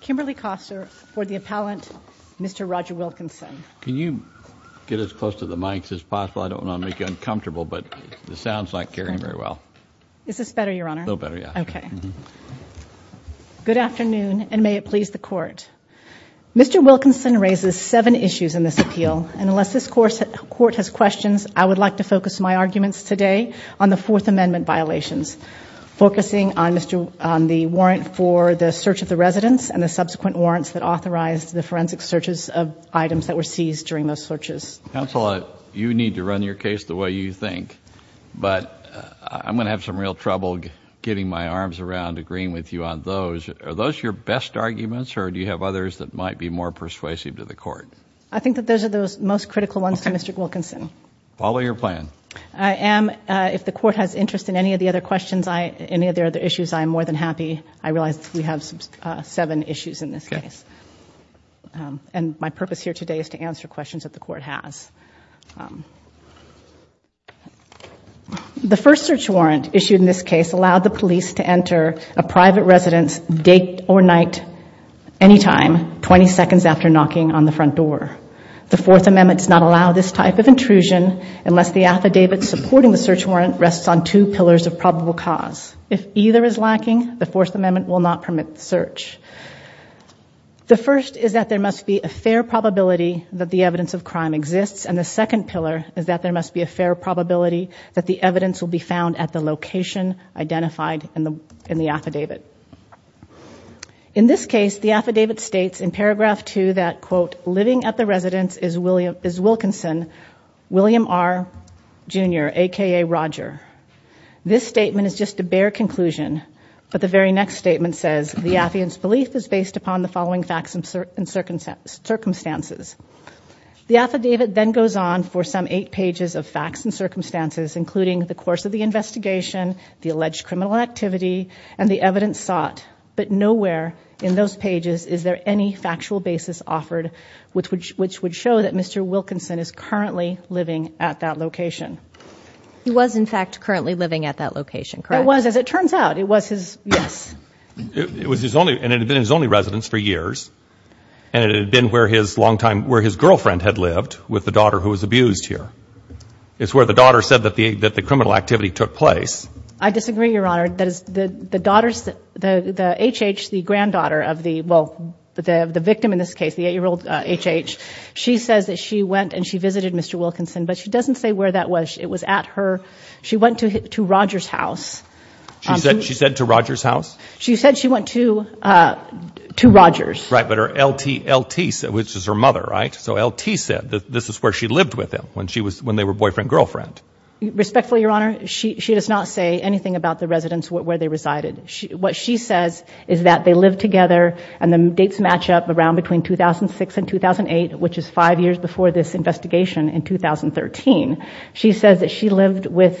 Kimberly Koster for the appellant. Mr. Roger Wilkinson. Can you get as close to the mics as possible? I don't want to make you uncomfortable, but the sounds like hearing very well. Is this better your honor? No better. Yeah, okay Good afternoon, and may it please the court Mr. Wilkinson raises seven issues in this appeal and unless this course court has questions I would like to focus my arguments today on the Fourth Amendment violations Focusing on Mr. on the warrant for the search of the residence and the subsequent warrants that authorized the forensic searches of Items that were seized during those searches counsel. I you need to run your case the way you think But I'm gonna have some real trouble getting my arms around agreeing with you on those Are those your best arguments or do you have others that might be more persuasive to the court? I think that those are those most critical ones to Mr. Wilkinson follow your plan I am if the court has interest in any of the other questions. I any of their other issues. I'm more than happy I realized we have some seven issues in this case And my purpose here today is to answer questions that the court has The first search warrant issued in this case allowed the police to enter a private residence date or night Anytime 20 seconds after knocking on the front door The Fourth Amendment does not allow this type of intrusion unless the affidavit Supporting the search warrant rests on two pillars of probable cause if either is lacking the Fourth Amendment will not permit the search The first is that there must be a fair probability That the evidence of crime exists and the second pillar is that there must be a fair probability That the evidence will be found at the location identified in the in the affidavit In this case the affidavit states in paragraph two that quote living at the residence is William is Wilkinson William R Jr. Aka Roger This statement is just a bare conclusion But the very next statement says the atheist belief is based upon the following facts and certain circumstances The affidavit then goes on for some eight pages of facts and circumstances including the course of the investigation The alleged criminal activity and the evidence sought but nowhere in those pages Is there any factual basis offered with which which would show that? Mr. Wilkinson is currently living at that location He was in fact currently living at that location. It was as it turns out it was his yes It was his only and it had been his only residence for years And it had been where his longtime where his girlfriend had lived with the daughter who was abused here It's where the daughter said that the that the criminal activity took place I disagree your honor that is the the daughters that the the HH the granddaughter of the well The the victim in this case the eight-year-old HH. She says that she went and she visited. Mr Wilkinson, but she doesn't say where that was. It was at her. She went to hit to Rogers house She said she said to Rogers house. She said she went to To Rogers right, but her LT LT said which is her mother, right? So LT said that this is where she lived with him when she was when they were boyfriend-girlfriend Respectfully your honor. She does not say anything about the residents where they resided She what she says is that they live together and the dates match up around between 2006 and 2008 Which is five years before this investigation in 2013. She says that she lived with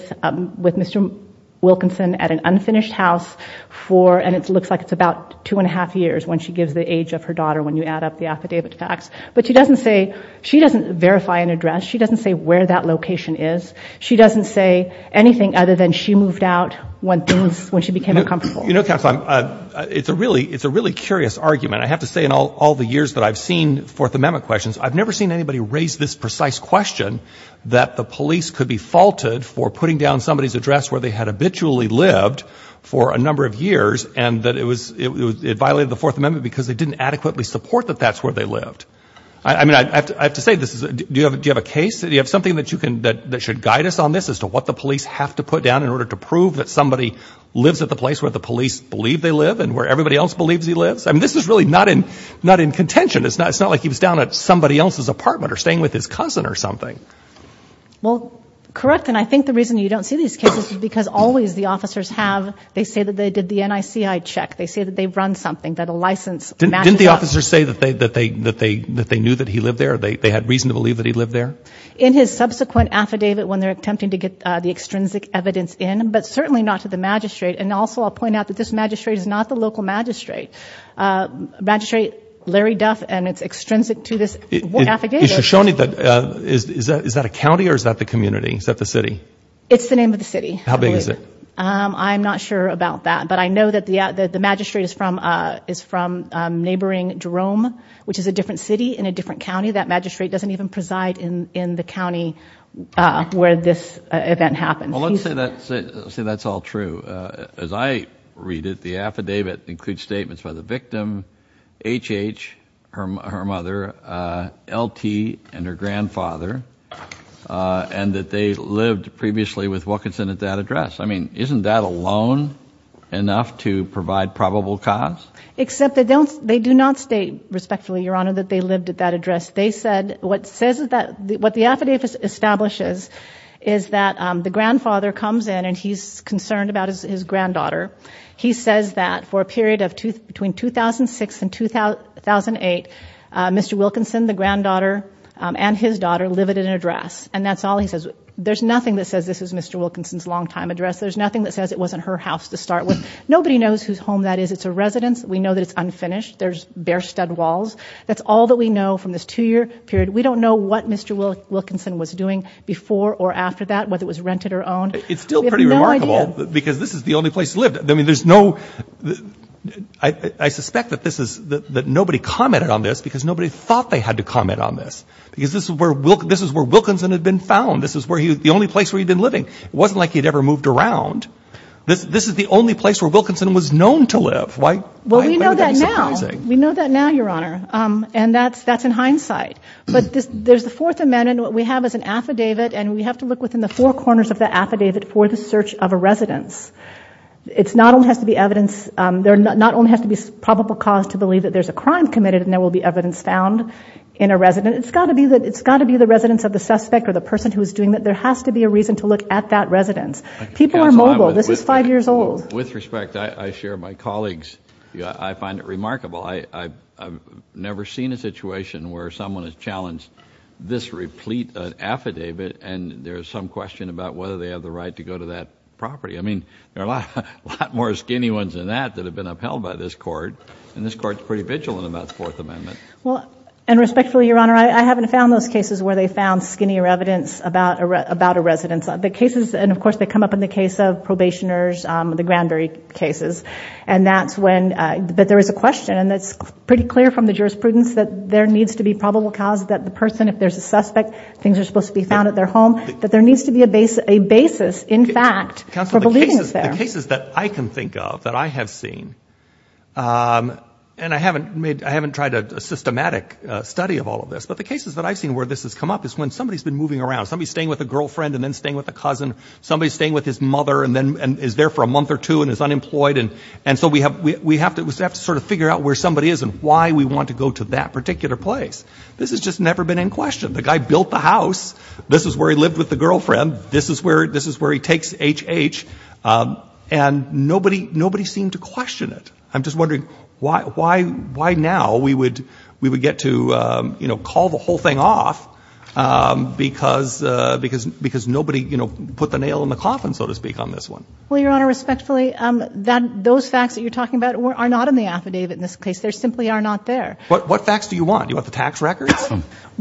with mr Wilkinson at an unfinished house For and it looks like it's about two and a half years when she gives the age of her daughter when you add up the affidavit Facts, but she doesn't say she doesn't verify an address. She doesn't say where that location is She doesn't say anything other than she moved out when things when she became a comfortable, you know, it's a really it's a really curious argument I have to say in all all the years that I've seen Fourth Amendment questions I've never seen anybody raised this precise question That the police could be faulted for putting down somebody's address where they had habitually lived For a number of years and that it was it violated the Fourth Amendment because they didn't adequately support that that's where they lived I mean I have to say this is do you have a case? You have something that you can that that should guide us on this as to what the police have to put down in order to Prove that somebody lives at the place where the police believe they live and where everybody else believes he lives I mean, this is really not in not in contention It's not it's not like he was down at somebody else's apartment or staying with his cousin or something Well, correct And I think the reason you don't see these cases because always the officers have they say that they did the NIC I check They say that they've run something that a license Didn't the officers say that they that they that they that they knew that he lived there They had reason to believe that he lived there in his subsequent affidavit when they're attempting to get the extrinsic evidence in but certainly not To the magistrate and also I'll point out that this magistrate is not the local magistrate Magistrate Larry Duff and it's extrinsic to this Shown it that is that is that a county or is that the community? Is that the city? It's the name of the city How big is it? I'm not sure about that. But I know that the the magistrate is from is from neighboring Jerome Which is a different city in a different county that magistrate doesn't even preside in in the county Where this event happens? Well, let's say that say that's all true as I read it the affidavit includes statements by the victim HH her mother LT and her grandfather And that they lived previously with what could send at that address. I mean, isn't that alone? Enough to provide probable cause except they don't they do not state respectfully your honor that they lived at that address They said what says is that what the affidavit establishes is that the grandfather comes in and he's concerned about his Granddaughter, he says that for a period of two between 2006 and 2008 Mr. Wilkinson the granddaughter and his daughter live at an address and that's all he says. There's nothing that says this is mr Wilkinson's longtime address. There's nothing that says it wasn't her house to start with. Nobody knows whose home that is. It's a residence We know that it's unfinished. There's bare stud walls. That's all that we know from this two-year period We don't know what mr. Wilkinson was doing before or after that whether it was rented or owned It's still pretty remarkable because this is the only place lived. I mean, there's no I Suspect that this is that nobody commented on this because nobody thought they had to comment on this Because this is where will this is where Wilkinson had been found This is where he was the only place where he'd been living. It wasn't like he'd ever moved around This this is the only place where Wilkinson was known to live. Why well, you know that now We know that now your honor and that's that's in hindsight but this there's the Fourth Amendment what we have is an affidavit and we have to look within the four corners of the affidavit for the search of a residence It's not only has to be evidence There not only has to be probable cause to believe that there's a crime committed and there will be evidence found in a resident It's got to be that it's got to be the residence of the suspect or the person who is doing that there has to be A reason to look at that residence people are mobile. This is five years old with respect. I share my colleagues. Yeah, I find it remarkable I I've never seen a situation where someone has challenged this replete an affidavit And there's some question about whether they have the right to go to that property I mean there are a lot more skinny ones than that that have been upheld by this court and this courts pretty vigilant about the Haven't found those cases where they found skinnier evidence about about a residence on the cases and of course they come up in the case of probationers the Granbury cases and that's when But there is a question and that's pretty clear from the jurisprudence that there needs to be probable cause that the person if there's a suspect Things are supposed to be found at their home that there needs to be a base a basis In fact council believes their cases that I can think of that. I have seen And I haven't made I haven't tried a systematic study of all of this But the cases that I've seen where this has come up is when somebody's been moving around somebody staying with a girlfriend and then staying With a cousin somebody staying with his mother and then and is there for a month or two and is unemployed and and so we have We have to have to sort of figure out where somebody is and why we want to go to that particular place This has just never been in question. The guy built the house. This is where he lived with the girlfriend This is where this is where he takes HH And nobody nobody seemed to question it I'm just wondering why why why now we would we would get to you know, call the whole thing off Because because because nobody, you know put the nail in the coffin so to speak on this one Well, your honor respectfully that those facts that you're talking about or are not in the affidavit in this case There simply are not there. But what facts do you want? You want the tax records?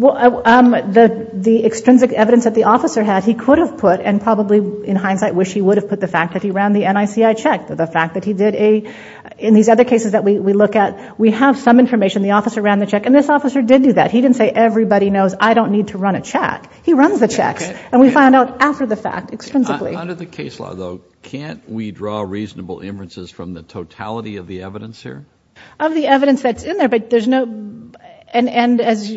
Well, I'm the the extrinsic evidence that the officer had he could have put and probably in hindsight Wish he would have put the fact that he ran the NIC I checked the fact that he did a In these other cases that we look at we have some information the officer ran the check and this officer did do that He didn't say everybody knows. I don't need to run a check He runs the checks and we find out after the fact Under the case law though. Can't we draw reasonable inferences from the totality of the evidence here of the evidence that's in there but there's no and and as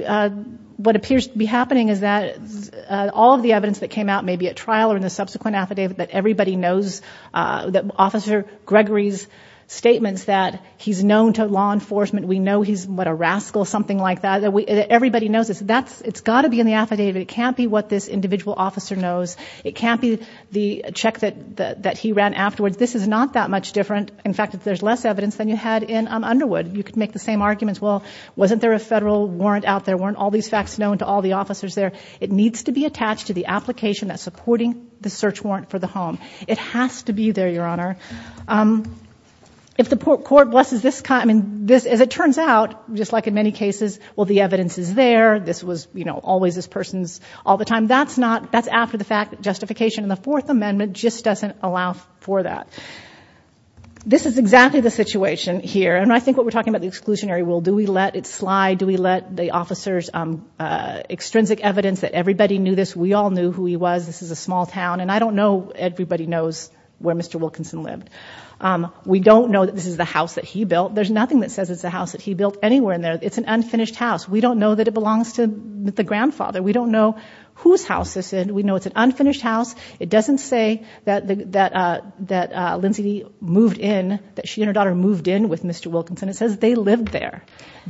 What appears to be happening? Is that? All of the evidence that came out maybe at trial or in the subsequent affidavit that everybody knows that officer Gregory's Statements that he's known to law enforcement. We know he's what a rascal something like that We everybody knows it's that's it's got to be in the affidavit. It can't be what this individual officer knows It can't be the check that that he ran afterwards. This is not that much different In fact, if there's less evidence than you had in Underwood, you could make the same arguments Well, wasn't there a federal warrant out there weren't all these facts known to all the officers there It needs to be attached to the application that supporting the search warrant for the home. It has to be there your honor If the court blesses this kind and this as it turns out just like in many cases Well, the evidence is there this was you know, always this person's all the time That's not that's after the fact justification in the Fourth Amendment just doesn't allow for that This is exactly the situation here and I think what we're talking about the exclusionary will do we let it slide do we let the officers Extrinsic evidence that everybody knew this we all knew who he was. This is a small town and I don't know everybody knows Where mr. Wilkinson lived? We don't know that this is the house that he built. There's nothing that says it's a house that he built anywhere in there It's an unfinished house. We don't know that it belongs to the grandfather. We don't know whose house this is We know it's an unfinished house It doesn't say that the that that Lindsay moved in that she and her daughter moved in with mr. Wilkinson it says they lived there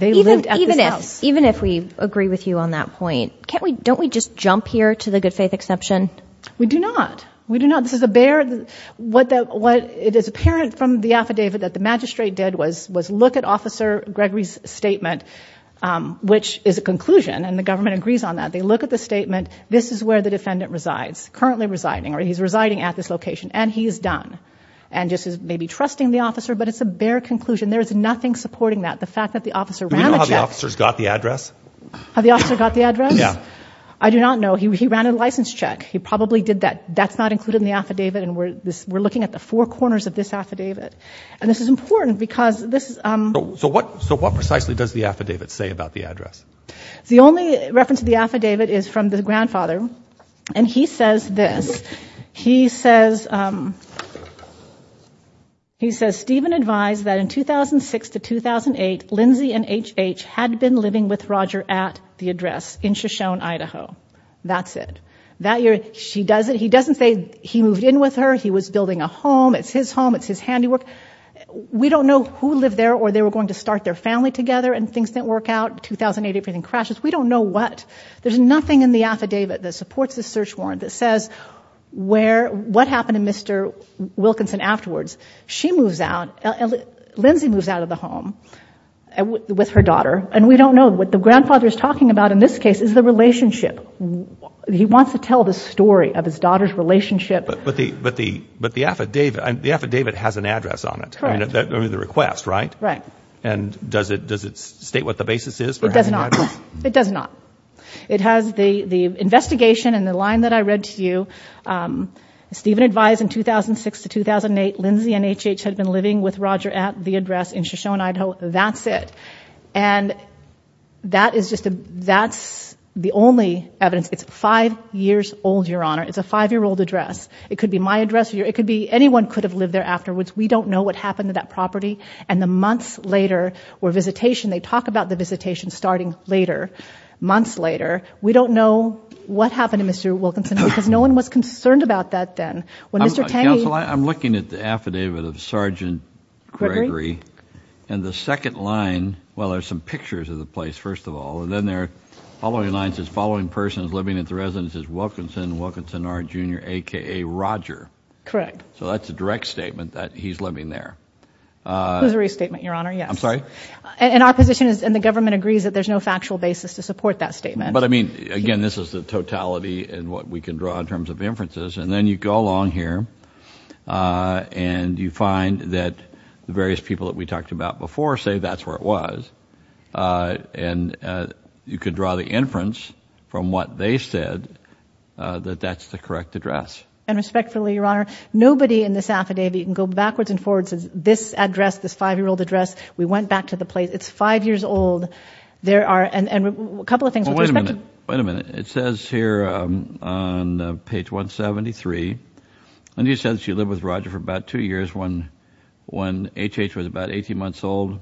They lived even if even if we agree with you on that point Can't we don't we just jump here to the good-faith exception? We do not we do not this is a bear What that what it is apparent from the affidavit that the magistrate did was was look at officer Gregory's statement Which is a conclusion and the government agrees on that they look at the statement This is where the defendant resides currently residing or he's residing at this location and he is done and just is maybe trusting the officer But it's a bare conclusion. There is nothing supporting that the fact that the officer ran officers got the address How the officer got the address? Yeah, I do not know. He ran a license check He probably did that that's not included in the affidavit and we're this we're looking at the four corners of this affidavit And this is important because this is so what so what precisely does the affidavit say about the address? The only reference to the affidavit is from the grandfather and he says this he says He says Stephen advised that in 2006 to 2008 Lindsey and HH had been living with Roger at the address in Shoshone, Idaho That's it that year. She does it. He doesn't say he moved in with her. He was building a home. It's his home It's his handiwork We don't know who lived there or they were going to start their family together and things didn't work out 2008 everything crashes. We don't know what there's nothing in the affidavit that supports the search warrant that says Where what happened to mr. Wilkinson afterwards she moves out Lindsay moves out of the home With her daughter and we don't know what the grandfather is talking about in this case is the relationship He wants to tell the story of his daughter's relationship But the but the but the affidavit and the affidavit has an address on it I mean the request right right and does it does it state what the basis is? It does not it has the the investigation and the line that I read to you Stephen advised in 2006 to 2008 Lindsey and HH had been living with Roger at the address in Shoshone, Idaho. That's it and That is just a that's the only evidence it's five years old your honor. It's a five-year-old address It could be my address here. It could be anyone could have lived there afterwards We don't know what happened to that property and the months later or visitation. They talk about the visitation starting later Months later. We don't know what happened to mr. Wilkinson because no one was concerned about that then when mr. Tang I'm looking at the affidavit of sergeant Gregory and the second line Well, there's some pictures of the place first of all and then they're following lines Following person is living at the residence is Wilkinson Wilkinson our junior aka Roger Craig. So that's a direct statement that he's living there There's a restatement your honor. Yeah, I'm sorry and opposition is and the government agrees that there's no factual basis to support that statement But I mean again, this is the totality and what we can draw in terms of inferences and then you go along here And you find that the various people that we talked about before say that's where it was and You could draw the inference from what they said That that's the correct address and respectfully your honor Nobody in this affidavit and go backwards and forwards as this address this five-year-old address. We went back to the place It's five years old. There are and a couple of things. Wait a minute. Wait a minute. It says here page 173 And he says she lived with Roger for about two years when when HH was about 18 months old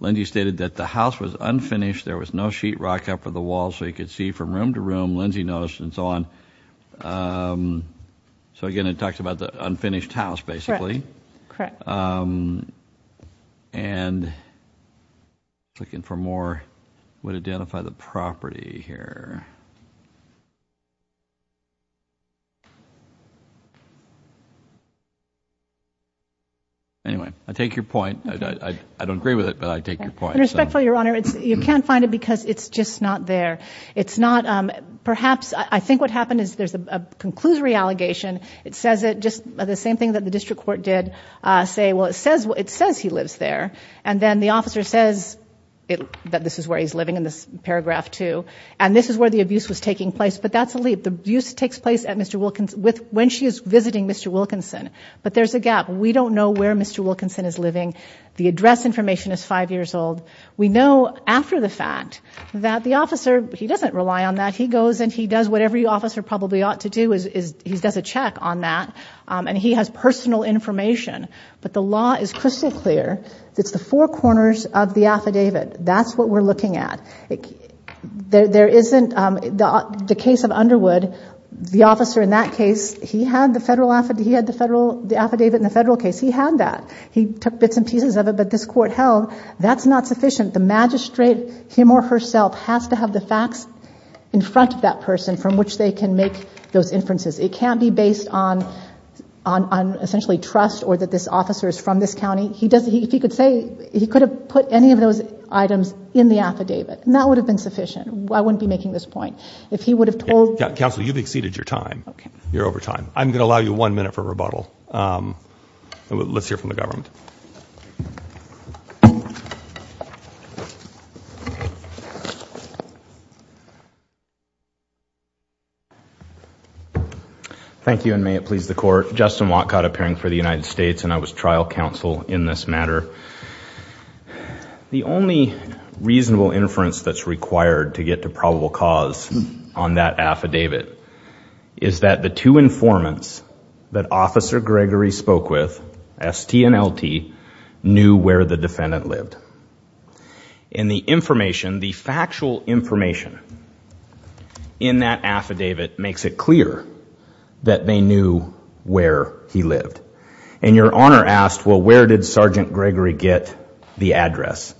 Lindy stated that the house was unfinished There was no sheetrock up for the wall so you could see from room to room Lindsay noticed and so on So again, it talks about the unfinished house, basically and Looking for more would identify the property here You Anyway, I take your point I don't agree with it, but I take your point respectfully your honor It's you can't find it because it's just not there. It's not Perhaps I think what happened is there's a conclusory allegation It says it just the same thing that the district court did Say well, it says what it says he lives there and then the officer says it that this is where he's living in this paragraph Two and this is where the abuse was taking place, but that's a leap the abuse takes place at mr. Wilkins with when she is visiting Mr. Wilkinson, but there's a gap. We don't know where mr. Wilkinson is living. The address information is five years old We know after the fact that the officer he doesn't rely on that He goes and he does whatever you officer probably ought to do is he does a check on that and he has personal information But the law is crystal clear. It's the four corners of the affidavit. That's what we're looking at There there isn't the case of Underwood the officer in that case He had the federal affidavit. He had the federal the affidavit in the federal case. He had that he took bits and pieces of it But this court held that's not sufficient the magistrate him or herself has to have the facts In front of that person from which they can make those inferences. It can't be based on on Essentially trust or that this officer is from this county He doesn't he could say he could have put any of those items in the affidavit and that would have been sufficient I wouldn't be making this point if he would have told council you've exceeded your time. You're over time I'm gonna allow you one minute for rebuttal Let's hear from the government You Thank you and may it please the court Justin Watcott appearing for the United States and I was trial counsel in this matter The only Reasonable inference that's required to get to probable cause on that affidavit Is that the two informants that officer Gregory spoke with? St and lt knew where the defendant lived in the information the factual information In that affidavit makes it clear That they knew where he lived and your honor asked Well, where did sergeant Gregory get the address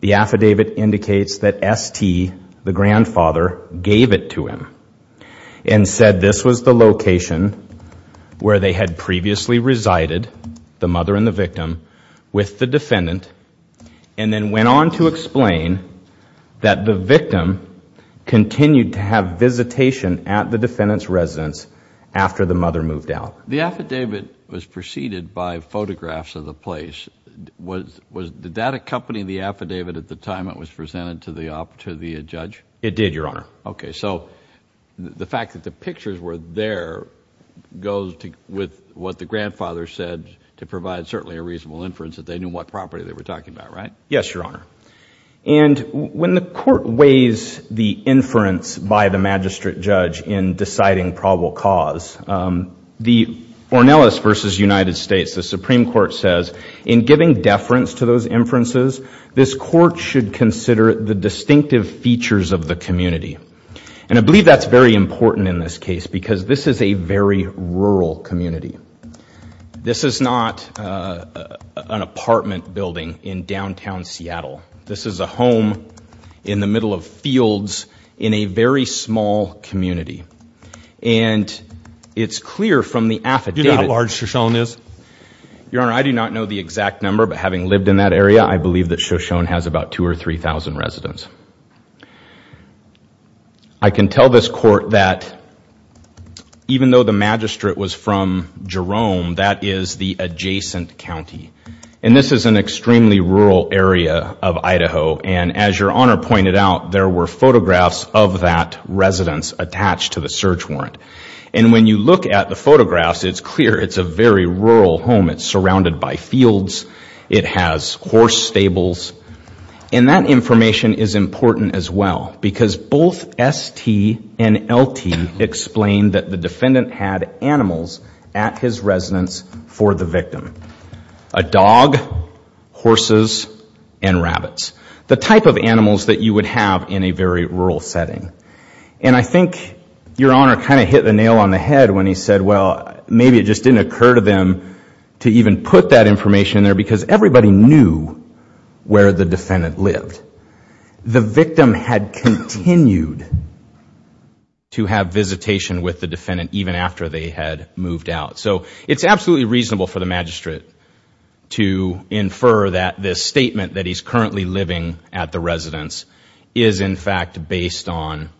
the affidavit indicates that ST the grandfather? Gave it to him and said this was the location Where they had previously resided the mother and the victim with the defendant and Then went on to explain that the victim Continued to have visitation at the defendants residence after the mother moved out The affidavit was preceded by photographs of the place Was was the data company the affidavit at the time? It was presented to the opportunity a judge it did your honor Okay, so The fact that the pictures were there Goes to with what the grandfather said to provide certainly a reasonable inference that they knew what property they were talking about, right? yes, your honor and When the court weighs the inference by the magistrate judge in deciding probable cause the Ornelas versus United States the Supreme Court says in giving deference to those inferences This court should consider the distinctive features of the community And I believe that's very important in this case because this is a very rural community This is not an apartment building in downtown Seattle this is a home in the middle of fields in a very small community and It's clear from the affidavit large Shoshone is Your honor. I do not know the exact number but having lived in that area. I believe that Shoshone has about two or three thousand residents I can tell this court that Even though the magistrate was from Jerome That is the adjacent county and this is an extremely rural area of Idaho And as your honor pointed out there were photographs of that Residents attached to the search warrant and when you look at the photographs, it's clear. It's a very rural home It's surrounded by fields It has horse stables and that information is important as well because both ST and LT explained that the defendant had animals at his residence for the victim a dog horses and rabbits the type of animals that you would have in a very rural setting and I think your honor kind of hit the nail on the head when he said well Maybe it just didn't occur to them to even put that information there because everybody knew where the defendant lived the victim had continued To have visitation with the defendant even after they had moved out. So it's absolutely reasonable for the magistrate To infer that this statement that he's currently living at the residence is in fact based on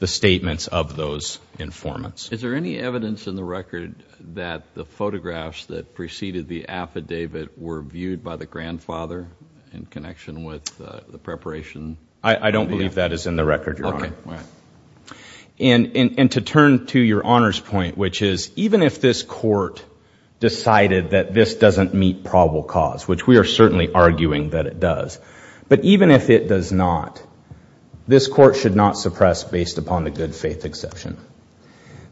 the statements of those Informants, is there any evidence in the record that the photographs that preceded the affidavit were viewed by the grandfather in Connection with the preparation. I don't believe that is in the record. You're on it And and to turn to your honors point, which is even if this court Decided that this doesn't meet probable cause which we are certainly arguing that it does but even if it does not This court should not suppress based upon the good faith exception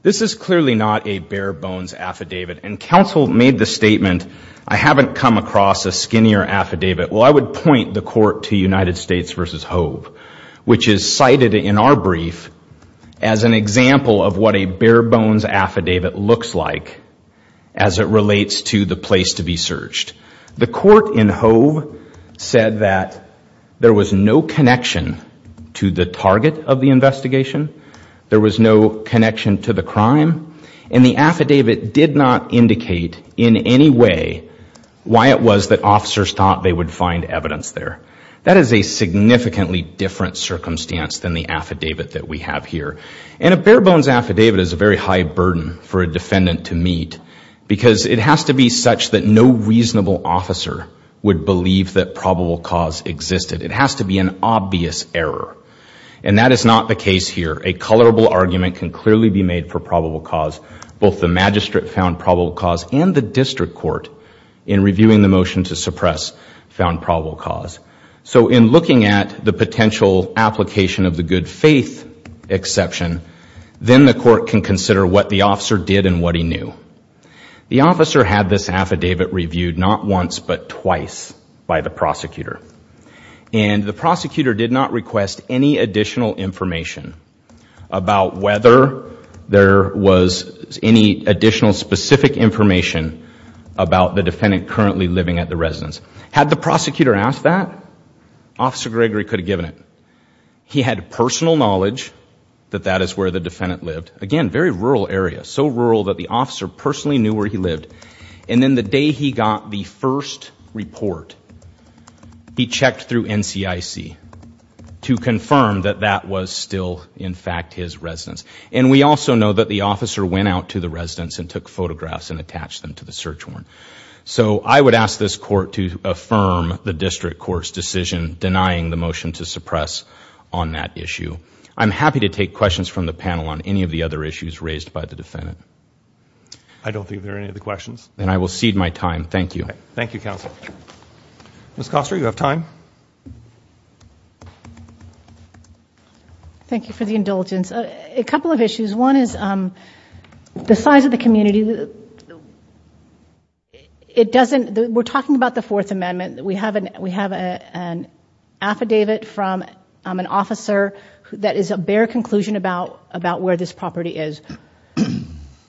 This is clearly not a bare-bones affidavit and counsel made the statement. I haven't come across a skinnier affidavit well, I would point the court to United States versus Hove, which is cited in our brief as an example of what a bare-bones affidavit looks like as It relates to the place to be searched the court in Hove Said that there was no connection to the target of the investigation There was no connection to the crime and the affidavit did not indicate in any way Why it was that officers thought they would find evidence there. That is a significantly different Circumstance than the affidavit that we have here and a bare-bones affidavit is a very high burden for a defendant to meet Because it has to be such that no reasonable officer would believe that probable cause existed It has to be an obvious error and that is not the case here a colorable argument can clearly be made for probable cause both the magistrate found probable cause and the district court in Reviewing the motion to suppress found probable cause so in looking at the potential application of the good faith Exception then the court can consider what the officer did and what he knew The officer had this affidavit reviewed not once but twice by the prosecutor And the prosecutor did not request any additional information about whether There was any additional specific information About the defendant currently living at the residence had the prosecutor asked that Officer Gregory could have given it He had personal knowledge That that is where the defendant lived again very rural area so rural that the officer personally knew where he lived and then the day He got the first report He checked through NCIC To confirm that that was still in fact his residence And we also know that the officer went out to the residence and took photographs and attached them to the search warrant So I would ask this court to affirm the district court's decision denying the motion to suppress on that issue I'm happy to take questions from the panel on any of the other issues raised by the defendant. I Don't think there are any of the questions and I will cede my time. Thank you. Thank you counsel Miss Costa you have time Thank you for the indulgence a couple of issues one is the size of the community It doesn't we're talking about the Fourth Amendment that we haven't we have a Affidavit from an officer who that is a bare conclusion about about where this property is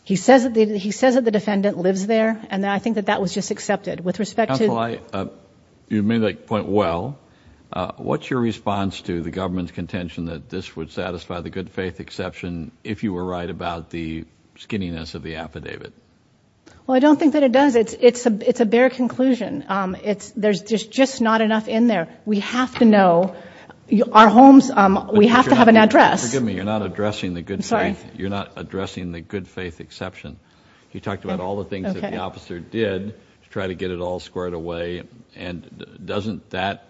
He says that he says that the defendant lives there and I think that that was just accepted with respect to my You may like point. Well what's your response to the government's contention that this would satisfy the good-faith exception if you were right about the Skinniness of the affidavit Well, I don't think that it does. It's it's a it's a bare conclusion. It's there's just just not enough in there We have to know you our homes. We have to have an address. Give me you're not addressing the good Sorry, you're not addressing the good-faith exception You talked about all the things that the officer did to try to get it all squared away and Doesn't that?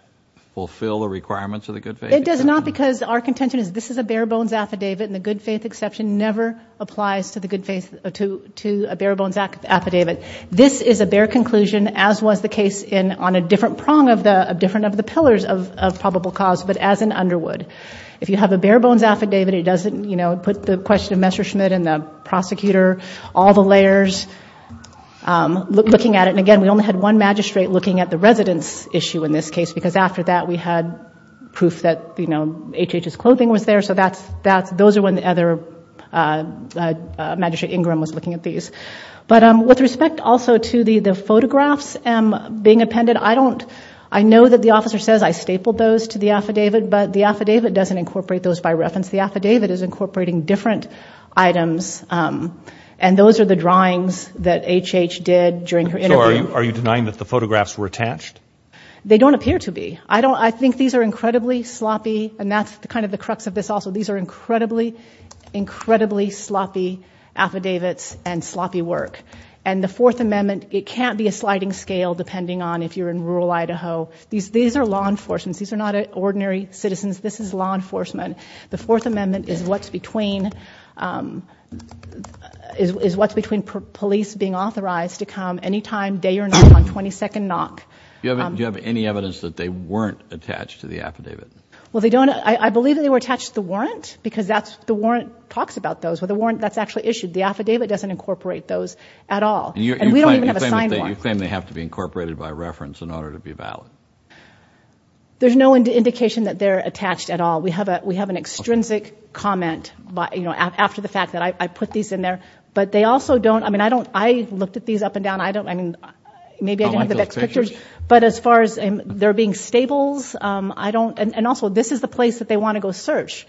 Fulfill the requirements of the good faith It does not because our contention is this is a bare-bones affidavit and the good-faith exception never Applies to the good faith to to a bare-bones act affidavit This is a bare conclusion as was the case in on a different prong of the different of the pillars of probable cause But as an underwood if you have a bare-bones affidavit It doesn't you know, put the question of Messerschmitt and the prosecutor all the layers Look looking at it And again, we only had one magistrate looking at the residence issue in this case because after that we had proof that you know HHS clothing was there. So that's that's those are when the other Magistrate Ingram was looking at these but um with respect also to the the photographs and being appended I don't I know that the officer says I stapled those to the affidavit But the affidavit doesn't incorporate those by reference. The affidavit is incorporating different items And those are the drawings that HH did during her. Are you are you denying that the photographs were attached? They don't appear to be I don't I think these are incredibly sloppy and that's the kind of the crux of this Also, these are incredibly incredibly sloppy Affidavits and sloppy work and the Fourth Amendment. It can't be a sliding scale depending on if you're in rural, Idaho These these are law enforcements. These are not ordinary citizens. This is law enforcement. The Fourth Amendment is what's between Is what's between police being authorized to come any time day or not on 22nd knock Do you have any evidence that they weren't attached to the affidavit? Well, they don't I believe that they were attached to the warrant because that's the warrant talks about those Well the warrant that's actually issued the affidavit doesn't incorporate those at all You claim they have to be incorporated by reference in order to be valid There's no indication that they're attached at all We have a we have an extrinsic comment, but you know after the fact that I put these in there But they also don't I mean, I don't I looked at these up and down. I don't I mean Maybe I don't have the best pictures but as far as they're being stables, I don't and also this is the place that they want to go search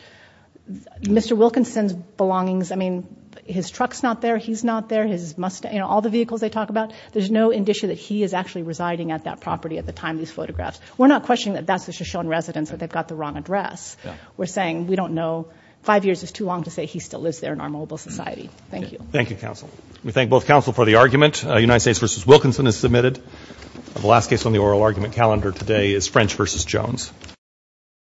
Mr. Wilkinson's belongings. I mean his trucks not there He's not there his Mustang all the vehicles they talk about there's no indicia that he is actually residing at that property at the time These photographs we're not questioning that that's the Shoshone residence that they've got the wrong address We're saying we don't know five years is too long to say he still lives there in our mobile society Thank you. Thank you counsel. We thank both counsel for the argument United States versus Wilkinson is submitted The last case on the oral argument calendar today is French versus Jones